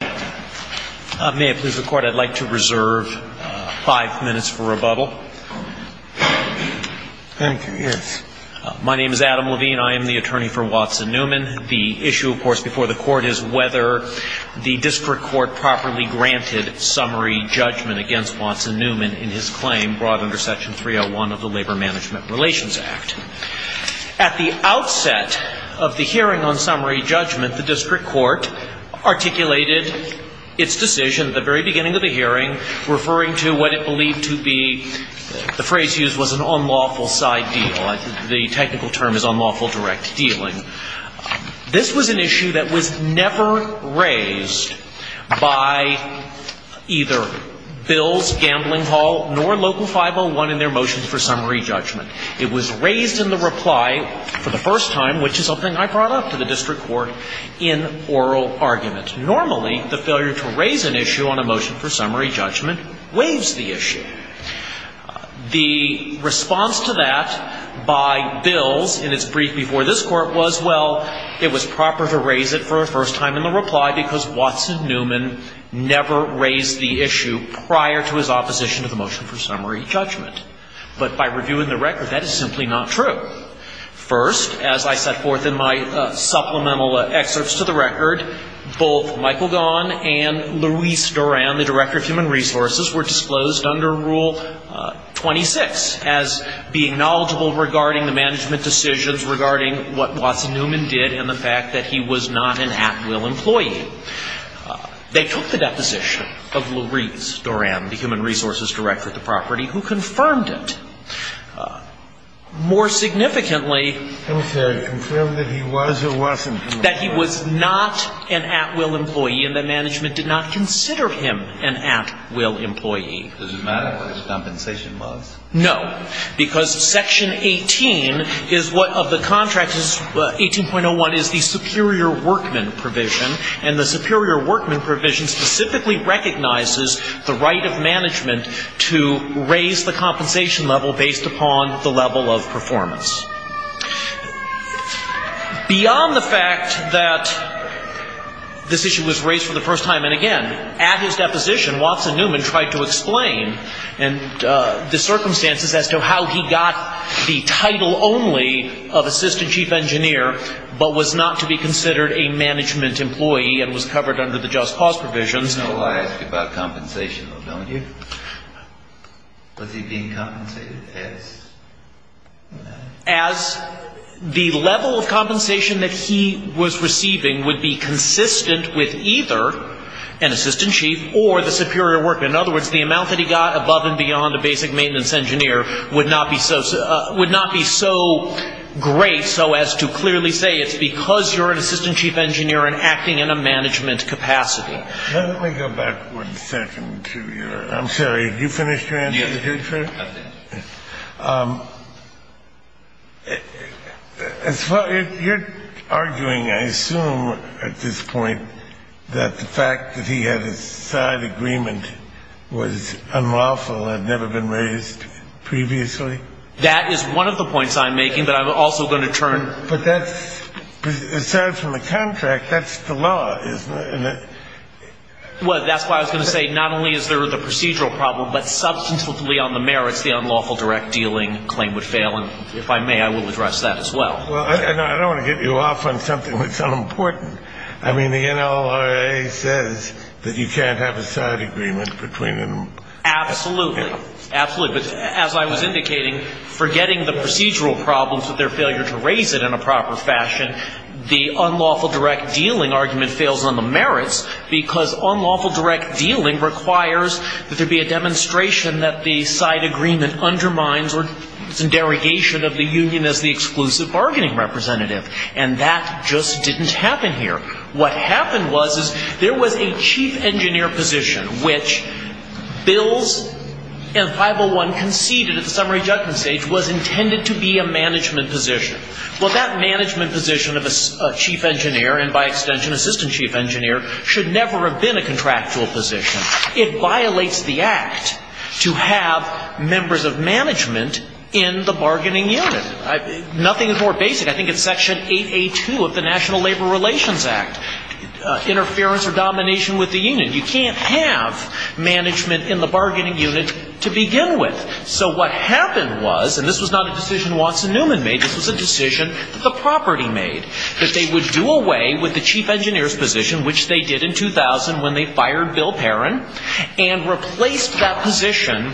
May I please record I'd like to reserve five minutes for rebuttal. Thank you. Yes. My name is Adam Levine. I am the attorney for Watson Newman. The issue, of course, before the court is whether the district court properly granted summary judgment against Watson Newman in his claim brought under Section 301 of the Labor Management Relations Act. At the outset of the hearing on summary judgment, the district court articulated its decision at the very beginning of the hearing, referring to what it believed to be, the phrase used was an unlawful side deal. The technical term is unlawful direct dealing. This was an issue that was never raised by either Bills, Gambling Hall, nor Local 501 in their motions for summary judgment. It was raised in the reply for the first time, which is something I brought up to the district court in oral argument. Normally, the failure to raise an issue on a motion for summary judgment waives the issue. The response to that by Bills in its brief before this court was, well, it was proper to raise it for a first time in the reply because Watson Newman never raised the issue prior to his opposition to the motion for summary judgment. But by reviewing the record, that is simply not true. First, as I set forth in my supplemental excerpts to the record, both Michael Gaughan and Louise Doran, the Director of Human Resources, were disclosed under Rule 26 as being knowledgeable regarding the management decisions regarding what Watson Newman did and the fact that he was not an at-will employee. They took the deposition of Louise Doran, the Human Resources Director at the property, who confirmed it. More significantly, that he was not an at-will employee and that management did not consider him an at-will employee. Does it matter what his compensation was? No, because Section 18 of the contract, 18.01, is the superior workman provision, and the superior workman provision specifically recognizes the right of management to raise the compensation level based upon the level of performance. Beyond the fact that this issue was raised for the first time and again, at his deposition, Watson Newman tried to explain the circumstances as to how he got the title only of Assistant Chief Engineer but was not to be considered a management employee and was covered under the Just Cause provisions. You know I ask about compensation, don't you? Was he being compensated as? As the level of compensation that he was receiving would be consistent with either an Assistant Chief or the superior workman. In other words, the amount that he got above and beyond a basic maintenance engineer would not be so great so as to clearly say it's because you're an Assistant Chief Engineer and acting in a management capacity. Let me go back one second to your, I'm sorry, did you finish your answer? Yes, I did. You're arguing, I assume at this point, that the fact that he had a side agreement was unlawful and had never been raised previously? That is one of the points I'm making but I'm also going to turn. But that's, aside from the contract, that's the law, isn't it? Well, that's why I was going to say not only is there the procedural problem but substantively on the merits the unlawful direct dealing claim would fail and if I may I will address that as well. Well, I don't want to get you off on something that's unimportant. I mean the NLRA says that you can't have a side agreement between them. Absolutely. Absolutely. But as I was indicating, forgetting the procedural problems with their failure to raise it in a proper fashion, the unlawful direct dealing argument fails on the merits because unlawful direct dealing requires that there be a demonstration that the side agreement undermines or derogation of the union as the exclusive bargaining representative. And that just didn't happen here. What happened was there was a chief engineer position which bills in 501 conceded at the summary judgment stage was intended to be a management position. Well, that management position of a chief engineer and by extension assistant chief engineer should never have been a contractual position. It violates the act to have members of management in the bargaining unit. Nothing is more basic. I think it's section 8A2 of the National Labor Relations Act. Interference or domination with the union. You can't have management in the bargaining unit to begin with. So what happened was, and this was not a decision Watson Newman made, this was a decision that the property made. That they would do away with the chief engineer's position which they did in 2000 when they fired Bill Perrin and replaced that position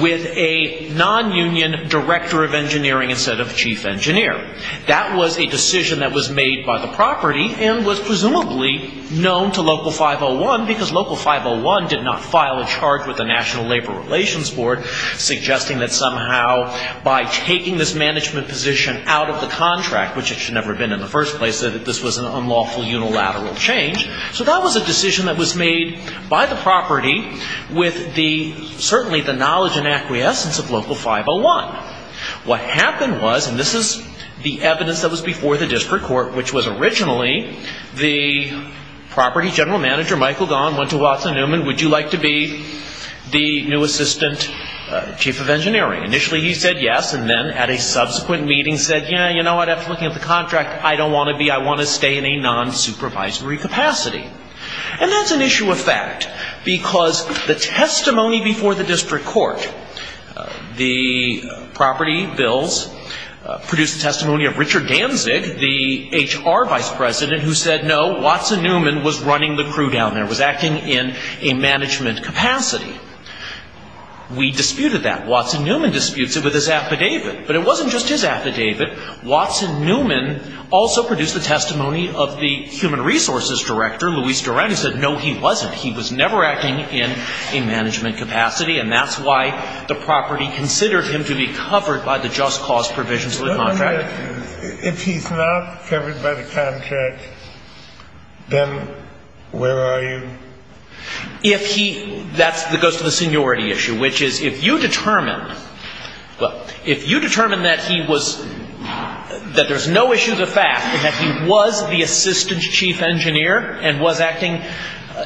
with a non-union director of engineering instead of chief engineer. That was a decision that was made by the property and was presumably known to local 501 because local 501 did not file a charge with the National Labor Relations Board suggesting that somehow by taking this management position out of the contract, which it should never have been in the first place, that this was an unlawful unilateral change. So that was a decision that was made by the property with the, certainly the knowledge and acquiescence of local 501. What happened was, and this is the evidence that was before the district court, which was originally the property general manager Michael Gaughan went to Watson Newman, would you like to be the new assistant chief of engineering? Initially he said yes and then at a subsequent meeting said, yeah, you know what, after looking at the contract, I don't want to be, I want to stay in a non-supervisory capacity. And that's an issue of fact because the testimony before the district court, the property bills produced the testimony of Richard Danzig, the HR vice president, who said no, Watson Newman was running the crew down there, was acting in a management capacity. We disputed that. Watson Newman disputes it with his affidavit. But it wasn't just his affidavit. Watson Newman also produced the testimony of the human resources director, Luis Durant, who said no, he wasn't. He was never acting in a management capacity and that's why the property considered him to be covered by the just cause provisions of the contract. If he's not covered by the contract, then where are you? If he, that goes to the seniority issue, which is if you determine, well, if you determine that he was, that there's no issue of the fact that he was the assistant chief engineer and was acting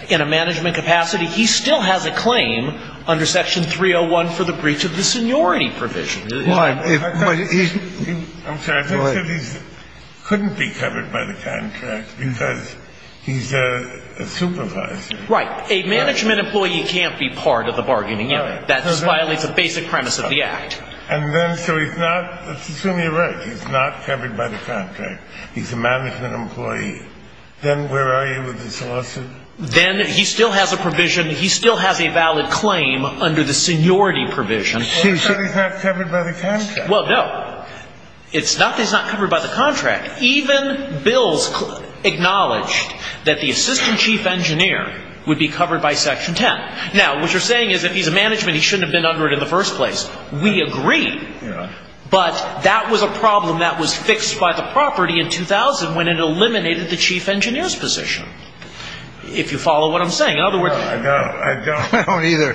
in a management capacity, he still has a claim under section 301 for the breach of the seniority provision. I'm sorry, I think that he couldn't be covered by the contract because he's a supervisor. Right. A management employee can't be part of the bargaining unit. That just violates the basic premise of the act. And then, so he's not, assume you're right, he's not covered by the contract. He's a management employee. Then where are you with this lawsuit? Then he still has a provision, he still has a valid claim under the seniority provision. So he's not covered by the contract? Well, no. It's not that he's not covered by the contract. Even bills acknowledged that the assistant chief engineer would be covered by section 10. Now, what you're saying is if he's a management, he shouldn't have been under it in the first place. We agree. But that was a problem that was fixed by the property in 2000 when it eliminated the chief engineer's position. If you follow what I'm saying. I don't either.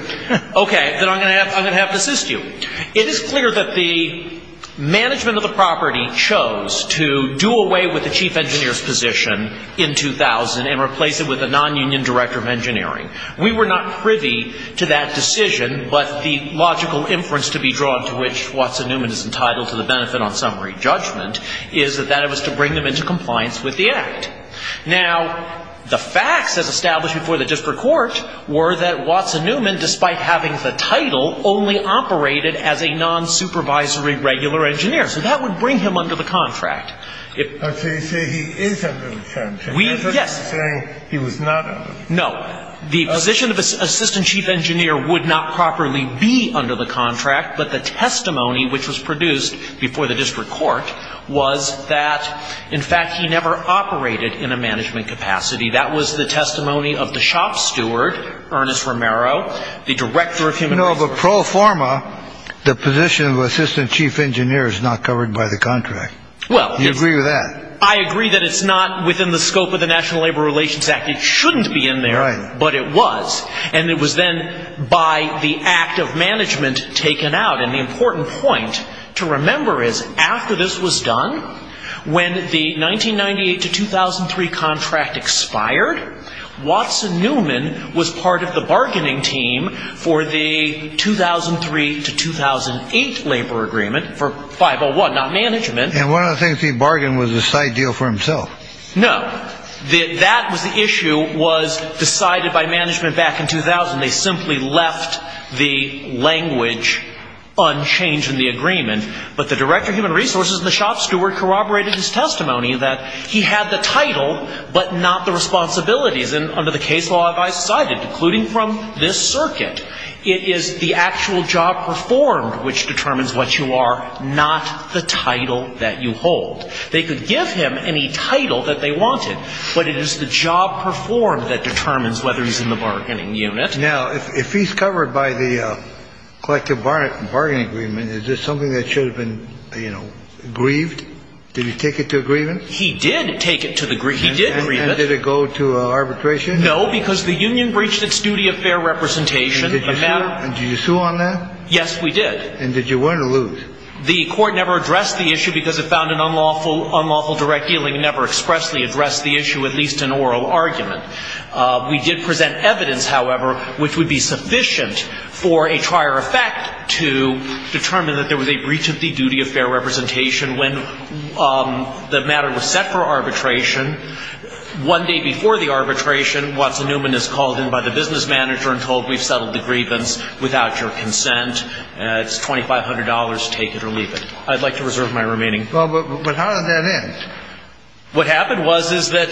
Okay. Then I'm going to have to assist you. It is clear that the management of the property chose to do away with the chief engineer's position in 2000 and replace it with a non-union director of engineering. We were not privy to that decision. But the logical inference to be drawn to which Watson Newman is entitled to the benefit on summary judgment is that that was to bring them into compliance with the act. Now, the facts as established before the district court were that Watson Newman, despite having the title, only operated as a non-supervisory regular engineer. So that would bring him under the contract. So you say he is under the contract. Yes. You're not saying he was not under the contract. No. The position of assistant chief engineer would not properly be under the contract. But the testimony which was produced before the district court was that, in fact, he never operated in a management capacity. That was the testimony of the shop steward, Ernest Romero, the director of human. No, but pro forma, the position of assistant chief engineer is not covered by the contract. Well, you agree with that. I agree that it's not within the scope of the National Labor Relations Act. And it shouldn't be in there. Right. But it was. And it was then by the act of management taken out. And the important point to remember is after this was done, when the 1998 to 2003 contract expired, Watson Newman was part of the bargaining team for the 2003 to 2008 labor agreement for 501, not management. And one of the things he bargained was the site deal for himself. No. That was the issue was decided by management back in 2000. They simply left the language unchanged in the agreement. But the director of human resources and the shop steward corroborated his testimony that he had the title but not the responsibilities. And under the case law, I cited, including from this circuit, it is the actual job performed which determines what you are, not the title that you hold. They could give him any title that they wanted. But it is the job performed that determines whether he's in the bargaining unit. Now, if he's covered by the collective bargaining agreement, is this something that should have been, you know, grieved? Did he take it to a grievance? He did take it to the grievance. He did grieve it. And did it go to arbitration? No, because the union breached its duty of fair representation. And did you sue on that? Yes, we did. And did you win or lose? The court never addressed the issue because it found it unlawful. Unlawful direct dealing never expressly addressed the issue, at least in oral argument. We did present evidence, however, which would be sufficient for a prior effect to determine that there was a breach of the duty of fair representation. When the matter was set for arbitration, one day before the arbitration, Watson Newman is called in by the business manager and told, we've settled the grievance without your consent. It's $2,500. Take it or leave it. I'd like to reserve my remaining. Well, but how did that end? What happened was is that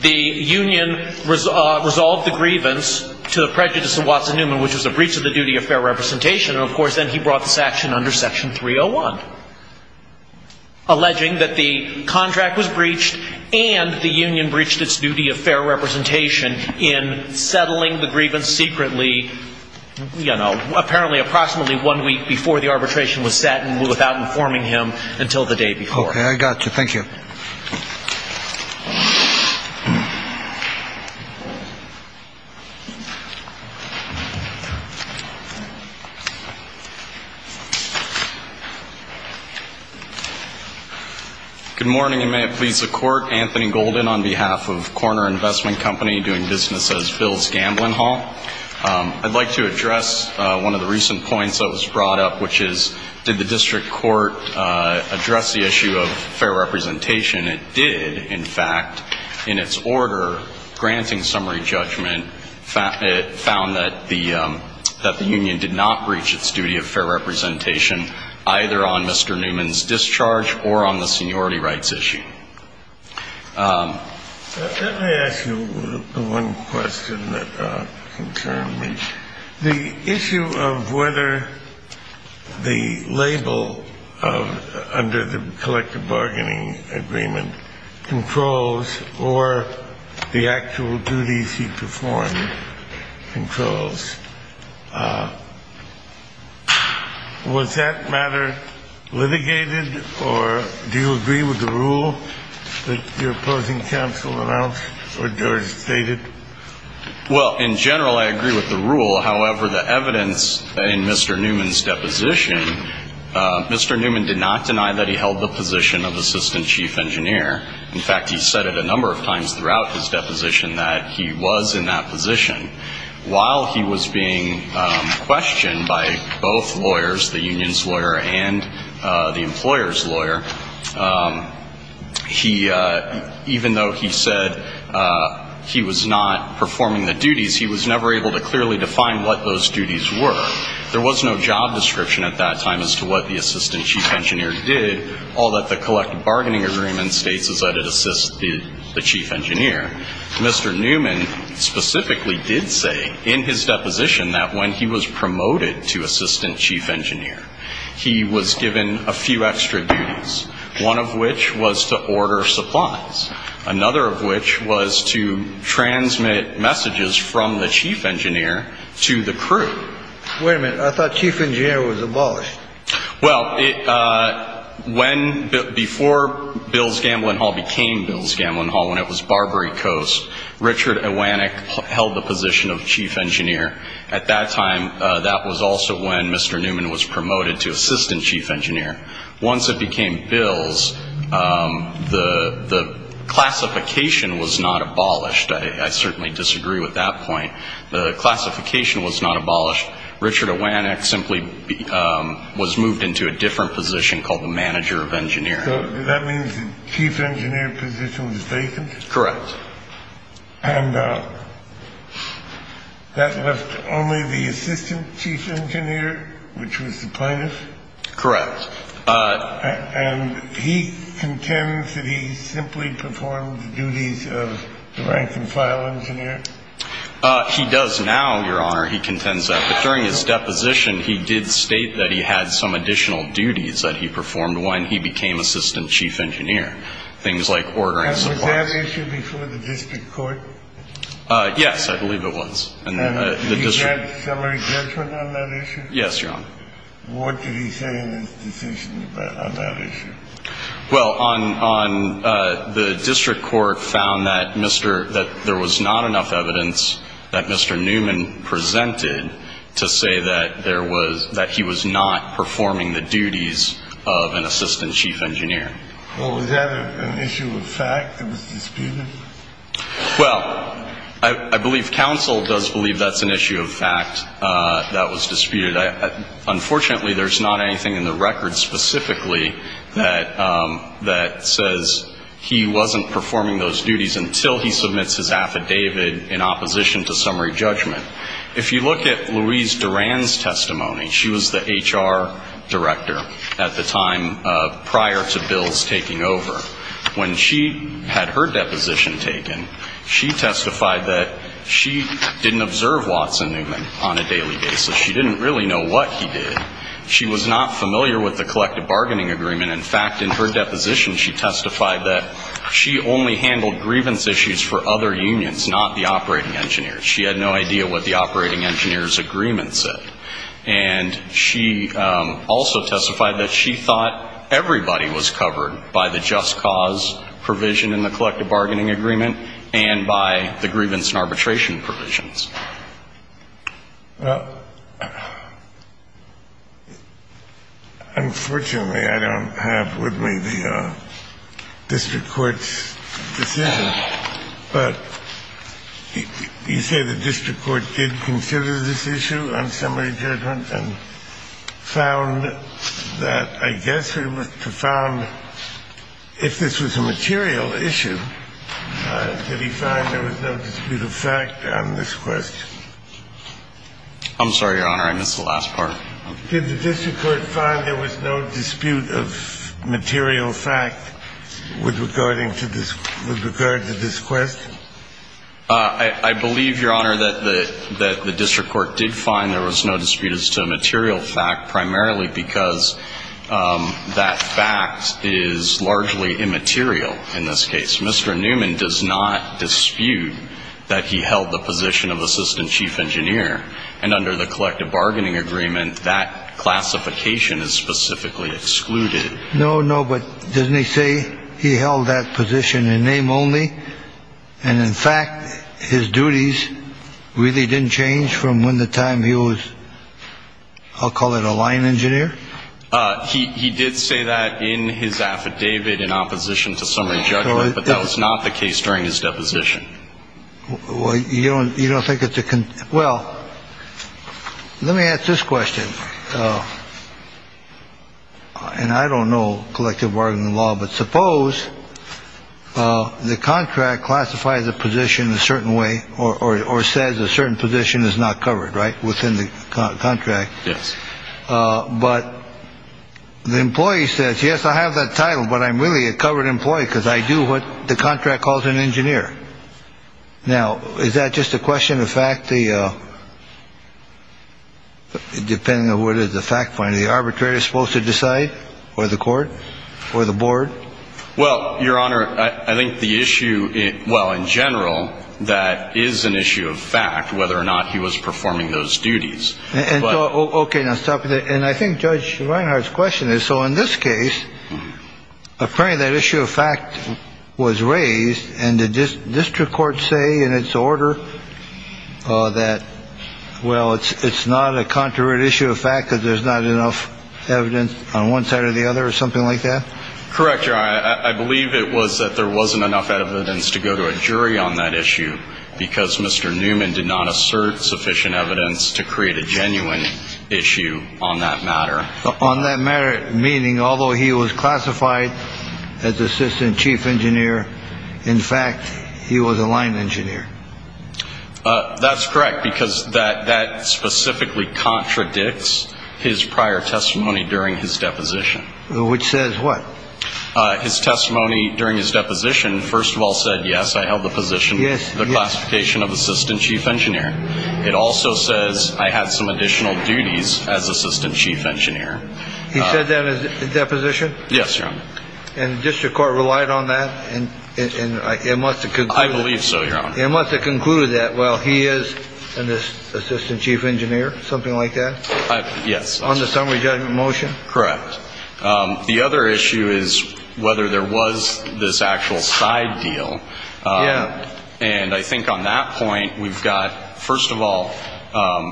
the union resolved the grievance to the prejudice of Watson Newman, which was a breach of the duty of fair representation. And, of course, then he brought this action under Section 301, alleging that the contract was breached and the union breached its duty of fair representation in settling the grievance secretly, you know, apparently approximately one week before the arbitration was set and without informing him until the day before. Okay, I got you. Thank you. Thank you. Good morning, and may it please the Court. Anthony Golden on behalf of Corner Investment Company doing business as Bill's Gambling Hall. I'd like to address one of the recent points that was brought up, which is, did the district court address the issue of fair representation? It did, in fact. In its order, granting summary judgment, it found that the union did not breach its duty of fair representation, either on Mr. Newman's discharge or on the seniority rights issue. Let me ask you one question that concerned me. The issue of whether the label under the collective bargaining agreement controls or the actual duties he performed controls, was that matter litigated, or do you agree with the rule that your opposing counsel announced or stated? Well, in general, I agree with the rule. However, the evidence in Mr. Newman's deposition, Mr. Newman did not deny that he held the position of assistant chief engineer. In fact, he said it a number of times throughout his deposition that he was in that position. While he was being questioned by both lawyers, the union's lawyer and the employer's lawyer, even though he said he was not performing the duties, he was never able to clearly define what those duties were. There was no job description at that time as to what the assistant chief engineer did. All that the collective bargaining agreement states is that it assists the chief engineer. Mr. Newman specifically did say in his deposition that when he was promoted to assistant chief engineer, he was given a few extra duties, one of which was to order supplies, another of which was to transmit messages from the chief engineer to the crew. Wait a minute. I thought chief engineer was abolished. Well, before Bill's Gambling Hall became Bill's Gambling Hall, when it was Barbary Coast, Richard Iwanek held the position of chief engineer. At that time, that was also when Mr. Newman was promoted to assistant chief engineer. Once it became Bill's, the classification was not abolished. I certainly disagree with that point. The classification was not abolished. Richard Iwanek simply was moved into a different position called the manager of engineering. That means the chief engineer position was vacant. Correct. And that left only the assistant chief engineer, which was the plaintiff. Correct. And he contends that he simply performed the duties of the rank and file engineer. He does now, Your Honor. He contends that. But during his deposition, he did state that he had some additional duties that he performed when he became assistant chief engineer, things like ordering supplies. Was that issue before the district court? Yes, I believe it was. Did he get summary judgment on that issue? Yes, Your Honor. What did he say in his decision on that issue? Well, the district court found that there was not enough evidence that Mr. Newman presented to say that he was not performing the duties of an assistant chief engineer. Well, was that an issue of fact that was disputed? Well, I believe counsel does believe that's an issue of fact that was disputed. Unfortunately, there's not anything in the record specifically that says he wasn't performing those duties until he submits his affidavit in opposition to summary judgment. If you look at Louise Duran's testimony, she was the HR director at the time prior to bills taking over. When she had her deposition taken, she testified that she didn't observe Watson Newman on a daily basis. She didn't really know what he did. She was not familiar with the collective bargaining agreement. In fact, in her deposition, she testified that she only handled grievance issues for other unions, not the operating engineers. She had no idea what the operating engineers' agreement said. And she also testified that she thought everybody was covered by the just cause provision in the collective bargaining agreement and by the grievance and arbitration provisions. Well, unfortunately, I don't have with me the district court's decision. But you say the district court did consider this issue on summary judgment and found that, I guess, if this was a material issue, did he find there was no dispute of fact on this question? I'm sorry, Your Honor. I missed the last part. Did the district court find there was no dispute of material fact with regarding to this question? I believe, Your Honor, that the district court did find there was no dispute as to a material fact, primarily because that fact is largely immaterial in this case. Mr. Newman does not dispute that he held the position of assistant chief engineer. And under the collective bargaining agreement, that classification is specifically excluded. No, no. But doesn't he say he held that position in name only? And in fact, his duties really didn't change from when the time he was, I'll call it a line engineer. He did say that in his affidavit in opposition to summary judgment. But that was not the case during his deposition. Well, you don't you don't think it's a. Well, let me ask this question. And I don't know collective bargaining law, but suppose the contract classifies a position a certain way or says a certain position is not covered. Right. Within the contract. Yes. But the employee says, yes, I have that title. But I'm really a covered employee because I do what the contract calls an engineer. Now, is that just a question of fact? The. Depending on what is the fact point, the arbitrator is supposed to decide or the court or the board. Well, Your Honor, I think the issue. Well, in general, that is an issue of fact, whether or not he was performing those duties. OK, let's talk. And I think Judge Reinhart's question is. So in this case, apparently that issue of fact was raised. And the district court say in its order that, well, it's not a contrary issue of fact that there's not enough evidence on one side or the other or something like that. Correct. I believe it was that there wasn't enough evidence to go to a jury on that issue because Mr. Newman did not assert sufficient evidence to create a genuine issue on that matter. So on that matter, meaning although he was classified as assistant chief engineer, in fact, he was a line engineer. That's correct, because that that specifically contradicts his prior testimony during his deposition, which says what his testimony during his deposition. First of all, said, yes, I held the position. Yes. The classification of assistant chief engineer. It also says I had some additional duties as assistant chief engineer. He said that his deposition. Yes. And the district court relied on that. And it must have. I believe so. It must have concluded that. Well, he is an assistant chief engineer, something like that. Yes. On the summary judgment motion. Correct. The other issue is whether there was this actual side deal. And I think on that point, we've got, first of all,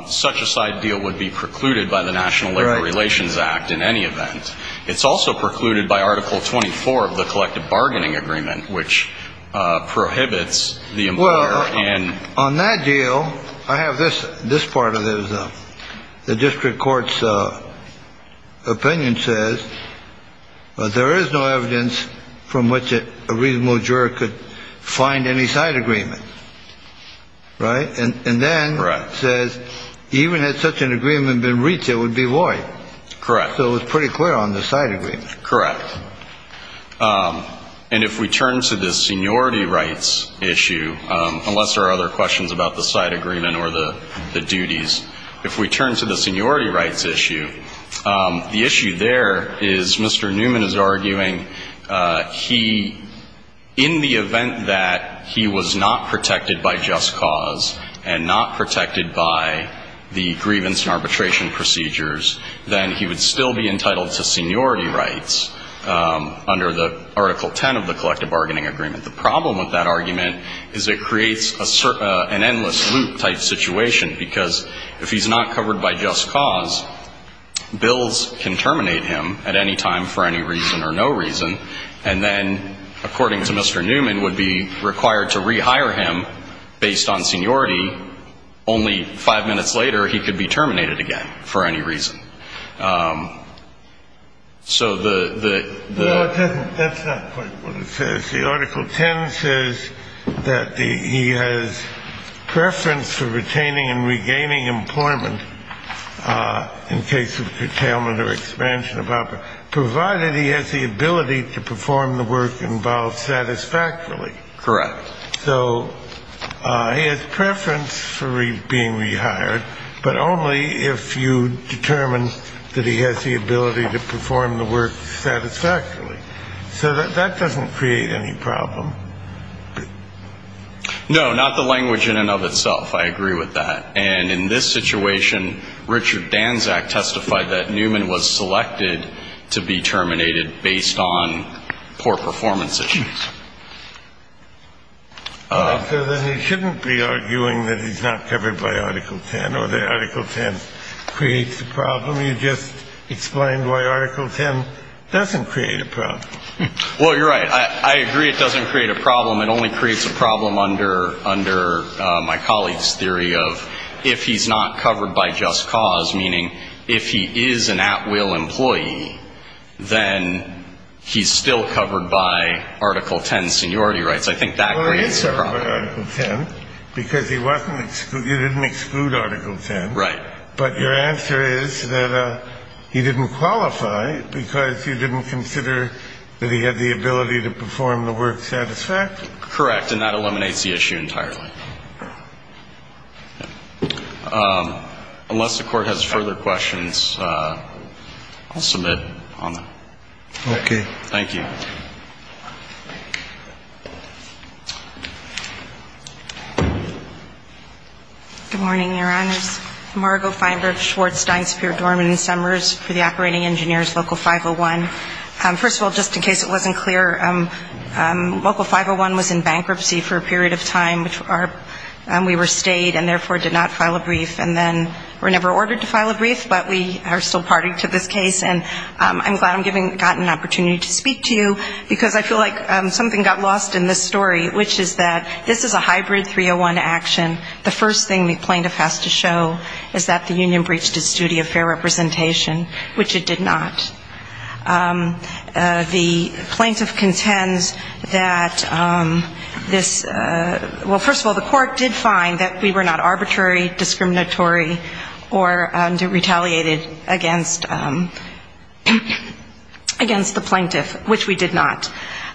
such a side deal would be precluded by the National Labor Relations Act in any event. It's also precluded by Article 24 of the collective bargaining agreement, which prohibits the. Well, and on that deal, I have this this part of the district court's opinion says there is no evidence from which a reasonable juror could find any side agreement. Right. And then says even had such an agreement been reached, it would be void. Correct. So it was pretty clear on the side agreement. Correct. And if we turn to the seniority rights issue, unless there are other questions about the side agreement or the duties, if we turn to the seniority rights issue, the issue there is Mr. Newman is arguing he in the event that he was not protected by just cause and not protected by the grievance and arbitration procedures, then he would still be entitled to seniority rights under the Article 10 of the collective bargaining agreement. The problem with that argument is it creates an endless loop type situation, because if he's not covered by just cause bills can terminate him at any time for any reason or no reason. And then, according to Mr. Newman, would be required to rehire him based on seniority. Only five minutes later, he could be terminated again for any reason. So the. That's not quite what it says. The Article 10 says that he has preference for retaining and regaining employment in case of curtailment or expansion. Provided he has the ability to perform the work involved satisfactorily. Correct. So he has preference for being rehired, but only if you determine that he has the ability to perform the work satisfactorily. So that doesn't create any problem. No, not the language in and of itself. I agree with that. And in this situation, Richard Danczak testified that Newman was selected to be terminated based on poor performance issues. Then he shouldn't be arguing that he's not covered by Article 10 or the Article 10 creates the problem. You just explained why Article 10 doesn't create a problem. Well, you're right. I agree. It doesn't create a problem. It only creates a problem under under my colleague's theory of if he's not covered by just cause, meaning if he is an at will employee, then he's still covered by Article 10 seniority rights. I think that creates a problem. Because he wasn't. You didn't exclude Article 10. Right. But your answer is that he didn't qualify because you didn't consider that he had the ability to perform the work satisfactorily. Correct. And that eliminates the issue entirely. Unless the court has further questions, I'll submit on that. Okay. Thank you. Good morning, Your Honors. Margo Feinberg, Schwartz, Steinsperr, Dorman and Summers for the Operating Engineers, Local 501. First of all, just in case it wasn't clear, Local 501 was in bankruptcy for a period of time. We were stayed and therefore did not file a brief. And then we were never ordered to file a brief, but we are still party to this case. And I'm glad I've gotten an opportunity to speak to you because I feel like something got lost in this story, which is that this is a hybrid 301 action. The first thing the plaintiff has to show is that the union breached its duty of fair representation, which it did not. The plaintiff contends that this, well, first of all, the court did find that we were not arbitrary, discriminatory, or retaliated against the plaintiff, which we did not.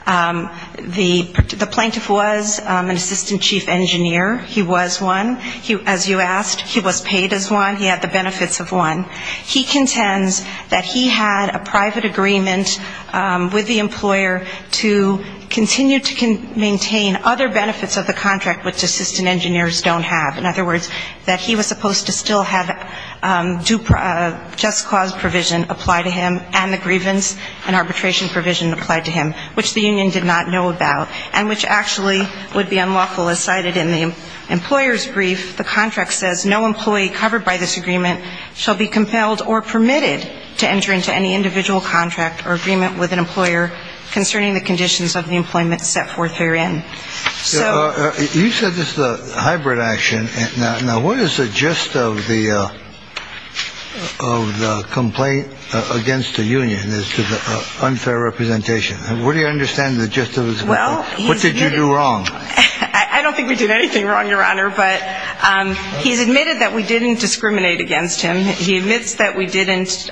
The plaintiff was an assistant chief engineer. He was one. As you asked, he was paid as one. He had the benefits of one. He contends that he had a private agreement with the employer to continue to maintain other benefits of the contract which assistant engineers don't have. In other words, that he was supposed to still have due just cause provision apply to him and the grievance and arbitration provision apply to him, which the union did not know about and which actually would be unlawful as cited in the employer's brief. The contract says, No employee covered by this agreement shall be compelled or permitted to enter into any individual contract or agreement with an employer concerning the conditions of the employment set forth therein. You said this is a hybrid action. Now, what is the gist of the complaint against the union as to the unfair representation? Where do you understand the gist of it? What did you do wrong? I don't think we did anything wrong, Your Honor, but he's admitted that we didn't discriminate against him. He admits that we didn't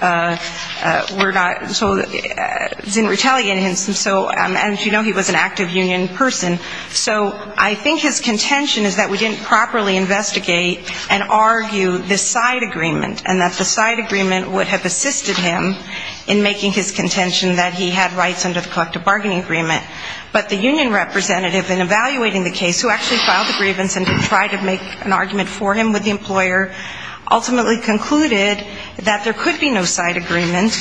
retaliate against him. And so, as you know, he was an active union person. So I think his contention is that we didn't properly investigate and argue the side agreement and that the side agreement would have assisted him in making his contention that he had rights under the collective bargaining agreement. But the union representative in evaluating the case, who actually filed the grievance and tried to make an argument for him with the employer, ultimately concluded that there could be no side agreement.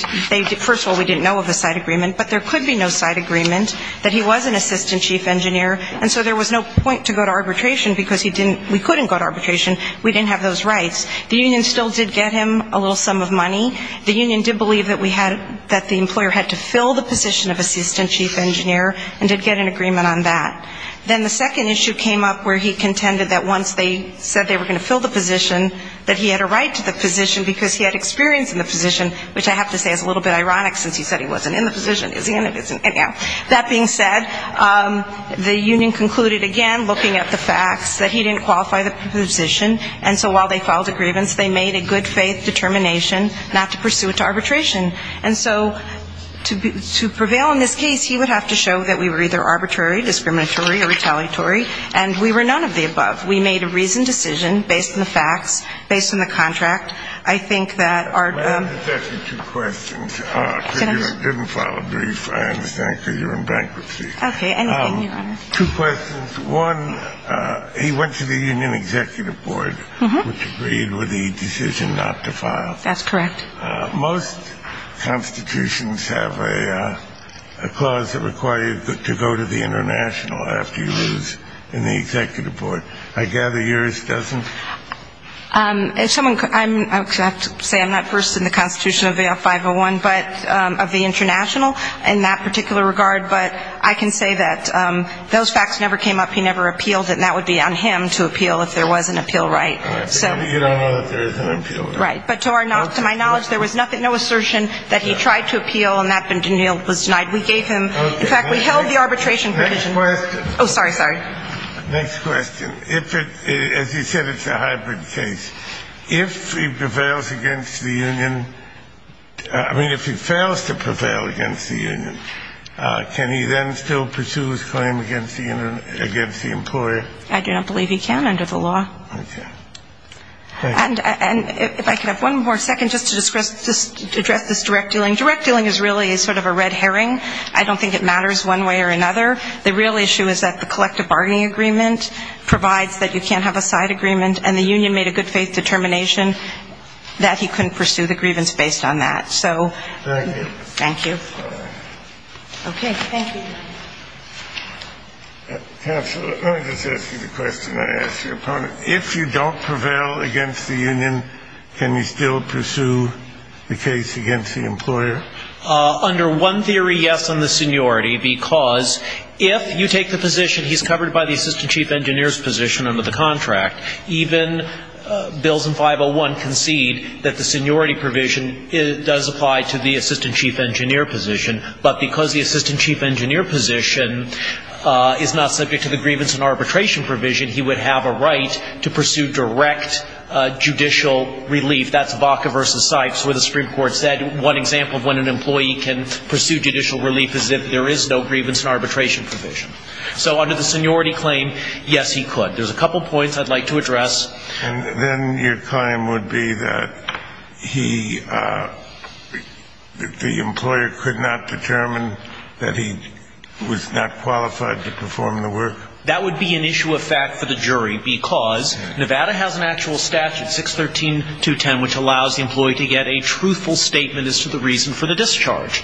First of all, we didn't know of a side agreement, but there could be no side agreement that he was an assistant chief engineer. And so there was no point to go to arbitration because we couldn't go to arbitration. We didn't have those rights. The union still did get him a little sum of money. The union did believe that we had to fill the position of assistant chief engineer and did get an agreement on that. Then the second issue came up where he contended that once they said they were going to fill the position, that he had a right to the position because he had experience in the position, which I have to say is a little bit ironic since he said he wasn't in the position. Is he in the position? Anyhow, that being said, the union concluded, again, looking at the facts, that he didn't qualify the position. And so while they filed the grievance, they made a good-faith determination not to pursue it to arbitration. And so to prevail in this case, he would have to show that we were either arbitrary, discriminatory, or retaliatory, and we were none of the above. We made a reasoned decision based on the facts, based on the contract. I think that our ---- Well, let me just ask you two questions. Because you didn't file a brief, I understand, because you're in bankruptcy. Okay. Anything, Your Honor. Two questions. One, he went to the union executive board, which agreed with the decision not to file. That's correct. Most constitutions have a clause that requires you to go to the international after you lose in the executive board. I gather yours doesn't? I have to say I'm not versed in the constitution of AO501, but of the international in that particular regard. But I can say that those facts never came up. He never appealed it. And that would be on him to appeal if there was an appeal right. You don't know if there is an appeal right. Right. But to my knowledge, there was no assertion that he tried to appeal, and that was denied. We gave him ---- Okay. Next question. Oh, sorry, sorry. Next question. As you said, it's a hybrid case. If he prevails against the union, I mean, if he fails to prevail against the union, can he then still pursue his claim against the employer? I do not believe he can under the law. Okay. And if I could have one more second just to address this direct dealing. Direct dealing is really sort of a red herring. I don't think it matters one way or another. The real issue is that the collective bargaining agreement provides that you can't have a side agreement, and the union made a good faith determination that he couldn't pursue the grievance based on that. So ---- Thank you. Thank you. Okay. Thank you. Counsel, let me just ask you the question I asked your opponent. If you don't prevail against the union, can you still pursue the case against the employer? Under one theory, yes, on the seniority, because if you take the position he's covered by the assistant chief engineer's position under the contract, even bills in 501 concede that the seniority provision does apply to the assistant chief engineer position. But because the assistant chief engineer position is not subject to the grievance and arbitration provision, he would have a right to pursue direct judicial relief. That's Baca v. Sipes where the Supreme Court said one example of when an employee can pursue judicial relief is if there is no grievance and arbitration provision. So under the seniority claim, yes, he could. There's a couple points I'd like to address. And then your claim would be that he ---- the employer could not determine that he was not qualified to perform the work? That would be an issue of fact for the jury because Nevada has an actual statute, 613.210, which allows the employee to get a truthful statement as to the reason for the discharge.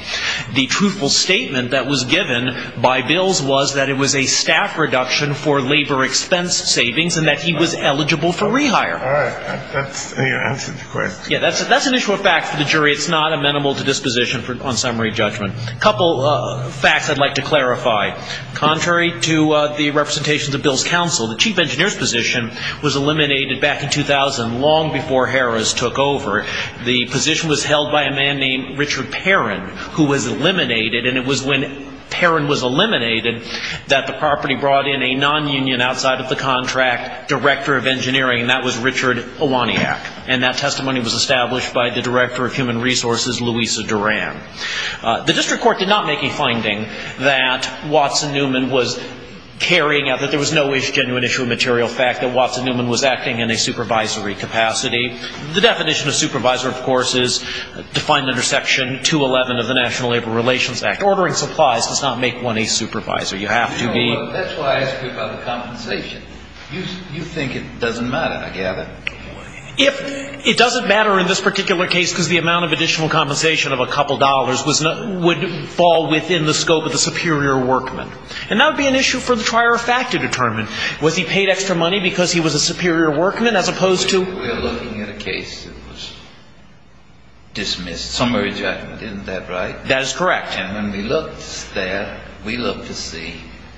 The truthful statement that was given by bills was that it was a staff reduction for labor expense savings and that he was eligible for rehire. All right. That's your answer to the question. Yeah, that's an issue of fact for the jury. It's not amenable to disposition on summary judgment. A couple facts I'd like to clarify. Contrary to the representations of Bill's counsel, the chief engineer's position was eliminated back in 2000, long before Harris took over. The position was held by a man named Richard Perrin, who was eliminated. And it was when Perrin was eliminated that the property brought in a nonunion outside of the contract, director of engineering, and that was Richard Iwaniak. And that testimony was established by the director of human resources, Louisa Duran. The district court did not make a finding that Watson Newman was carrying out, that there was no genuine issue of material fact, that Watson Newman was acting in a supervisory capacity. The definition of supervisor, of course, is defined under Section 211 of the National Labor Relations Act. Ordering supplies does not make one a supervisor. You have to be. That's why I asked you about the compensation. You think it doesn't matter, I gather. It doesn't matter in this particular case because the amount of additional compensation of a couple dollars would fall within the scope of the superior workman. And that would be an issue for the trier of fact to determine. Was he paid extra money because he was a superior workman as opposed to? We're looking at a case that was dismissed. Summary judgment, isn't that right? That is correct. And when we looked there, we looked to see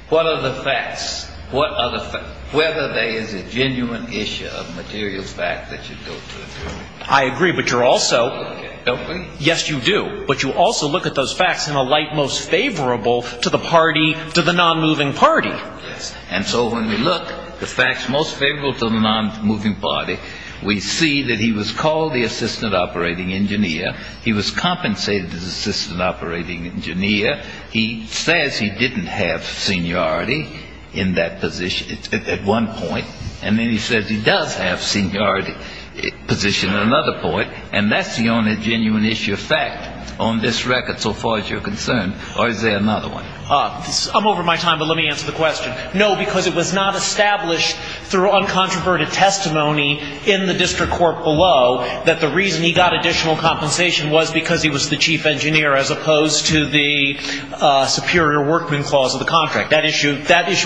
what are the facts? Whether there is a genuine issue of material fact that you go through. I agree, but you're also. Don't we? Yes, you do. But you also look at those facts in a light most favorable to the party, to the nonmoving party. Yes. And so when we look, the facts most favorable to the nonmoving party, we see that he was called the assistant operating engineer. He was compensated as assistant operating engineer. He says he didn't have seniority in that position at one point. And then he says he does have seniority position at another point. And that's the only genuine issue of fact on this record so far as you're concerned. Or is there another one? I'm over my time, but let me answer the question. No, because it was not established through uncontroverted testimony in the district court below that the reason he got additional compensation was because he was the chief engineer as opposed to the superior workman clause of the contract. That issue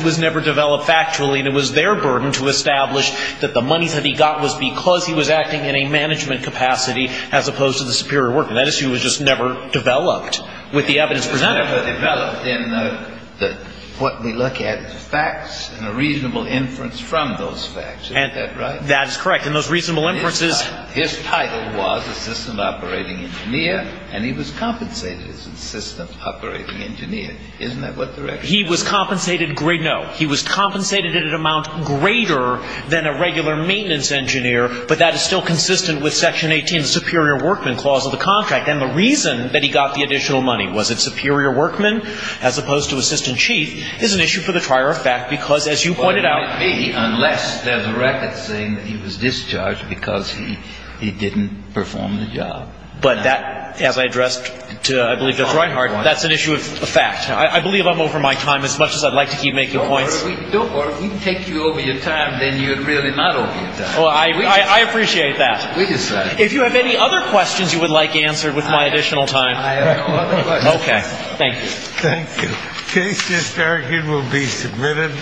was never developed factually, and it was their burden to establish that the money that he got was because he was acting in a management capacity as opposed to the superior workman. That issue was just never developed with the evidence presented. It was never developed in what we look at as facts and a reasonable inference from those facts. Isn't that right? That is correct. In those reasonable inferences. His title was assistant operating engineer, and he was compensated as assistant operating engineer. Isn't that what the record says? He was compensated. No. He was compensated at an amount greater than a regular maintenance engineer, but that is still consistent with Section 18, the superior workman clause of the contract. And the reason that he got the additional money, was it superior workman as opposed to assistant chief, is an issue for the trier of fact because, as you pointed out. It might be, unless there's a record saying that he was discharged because he didn't perform the job. But that, as I addressed to I believe Judge Reinhardt, that's an issue of fact. I believe I'm over my time as much as I'd like to keep making points. Or if we take you over your time, then you're really not over your time. I appreciate that. We decide. If you have any other questions you would like answered with my additional time. I have no other questions. Okay. Thank you. Thank you. The case is argued and will be submitted.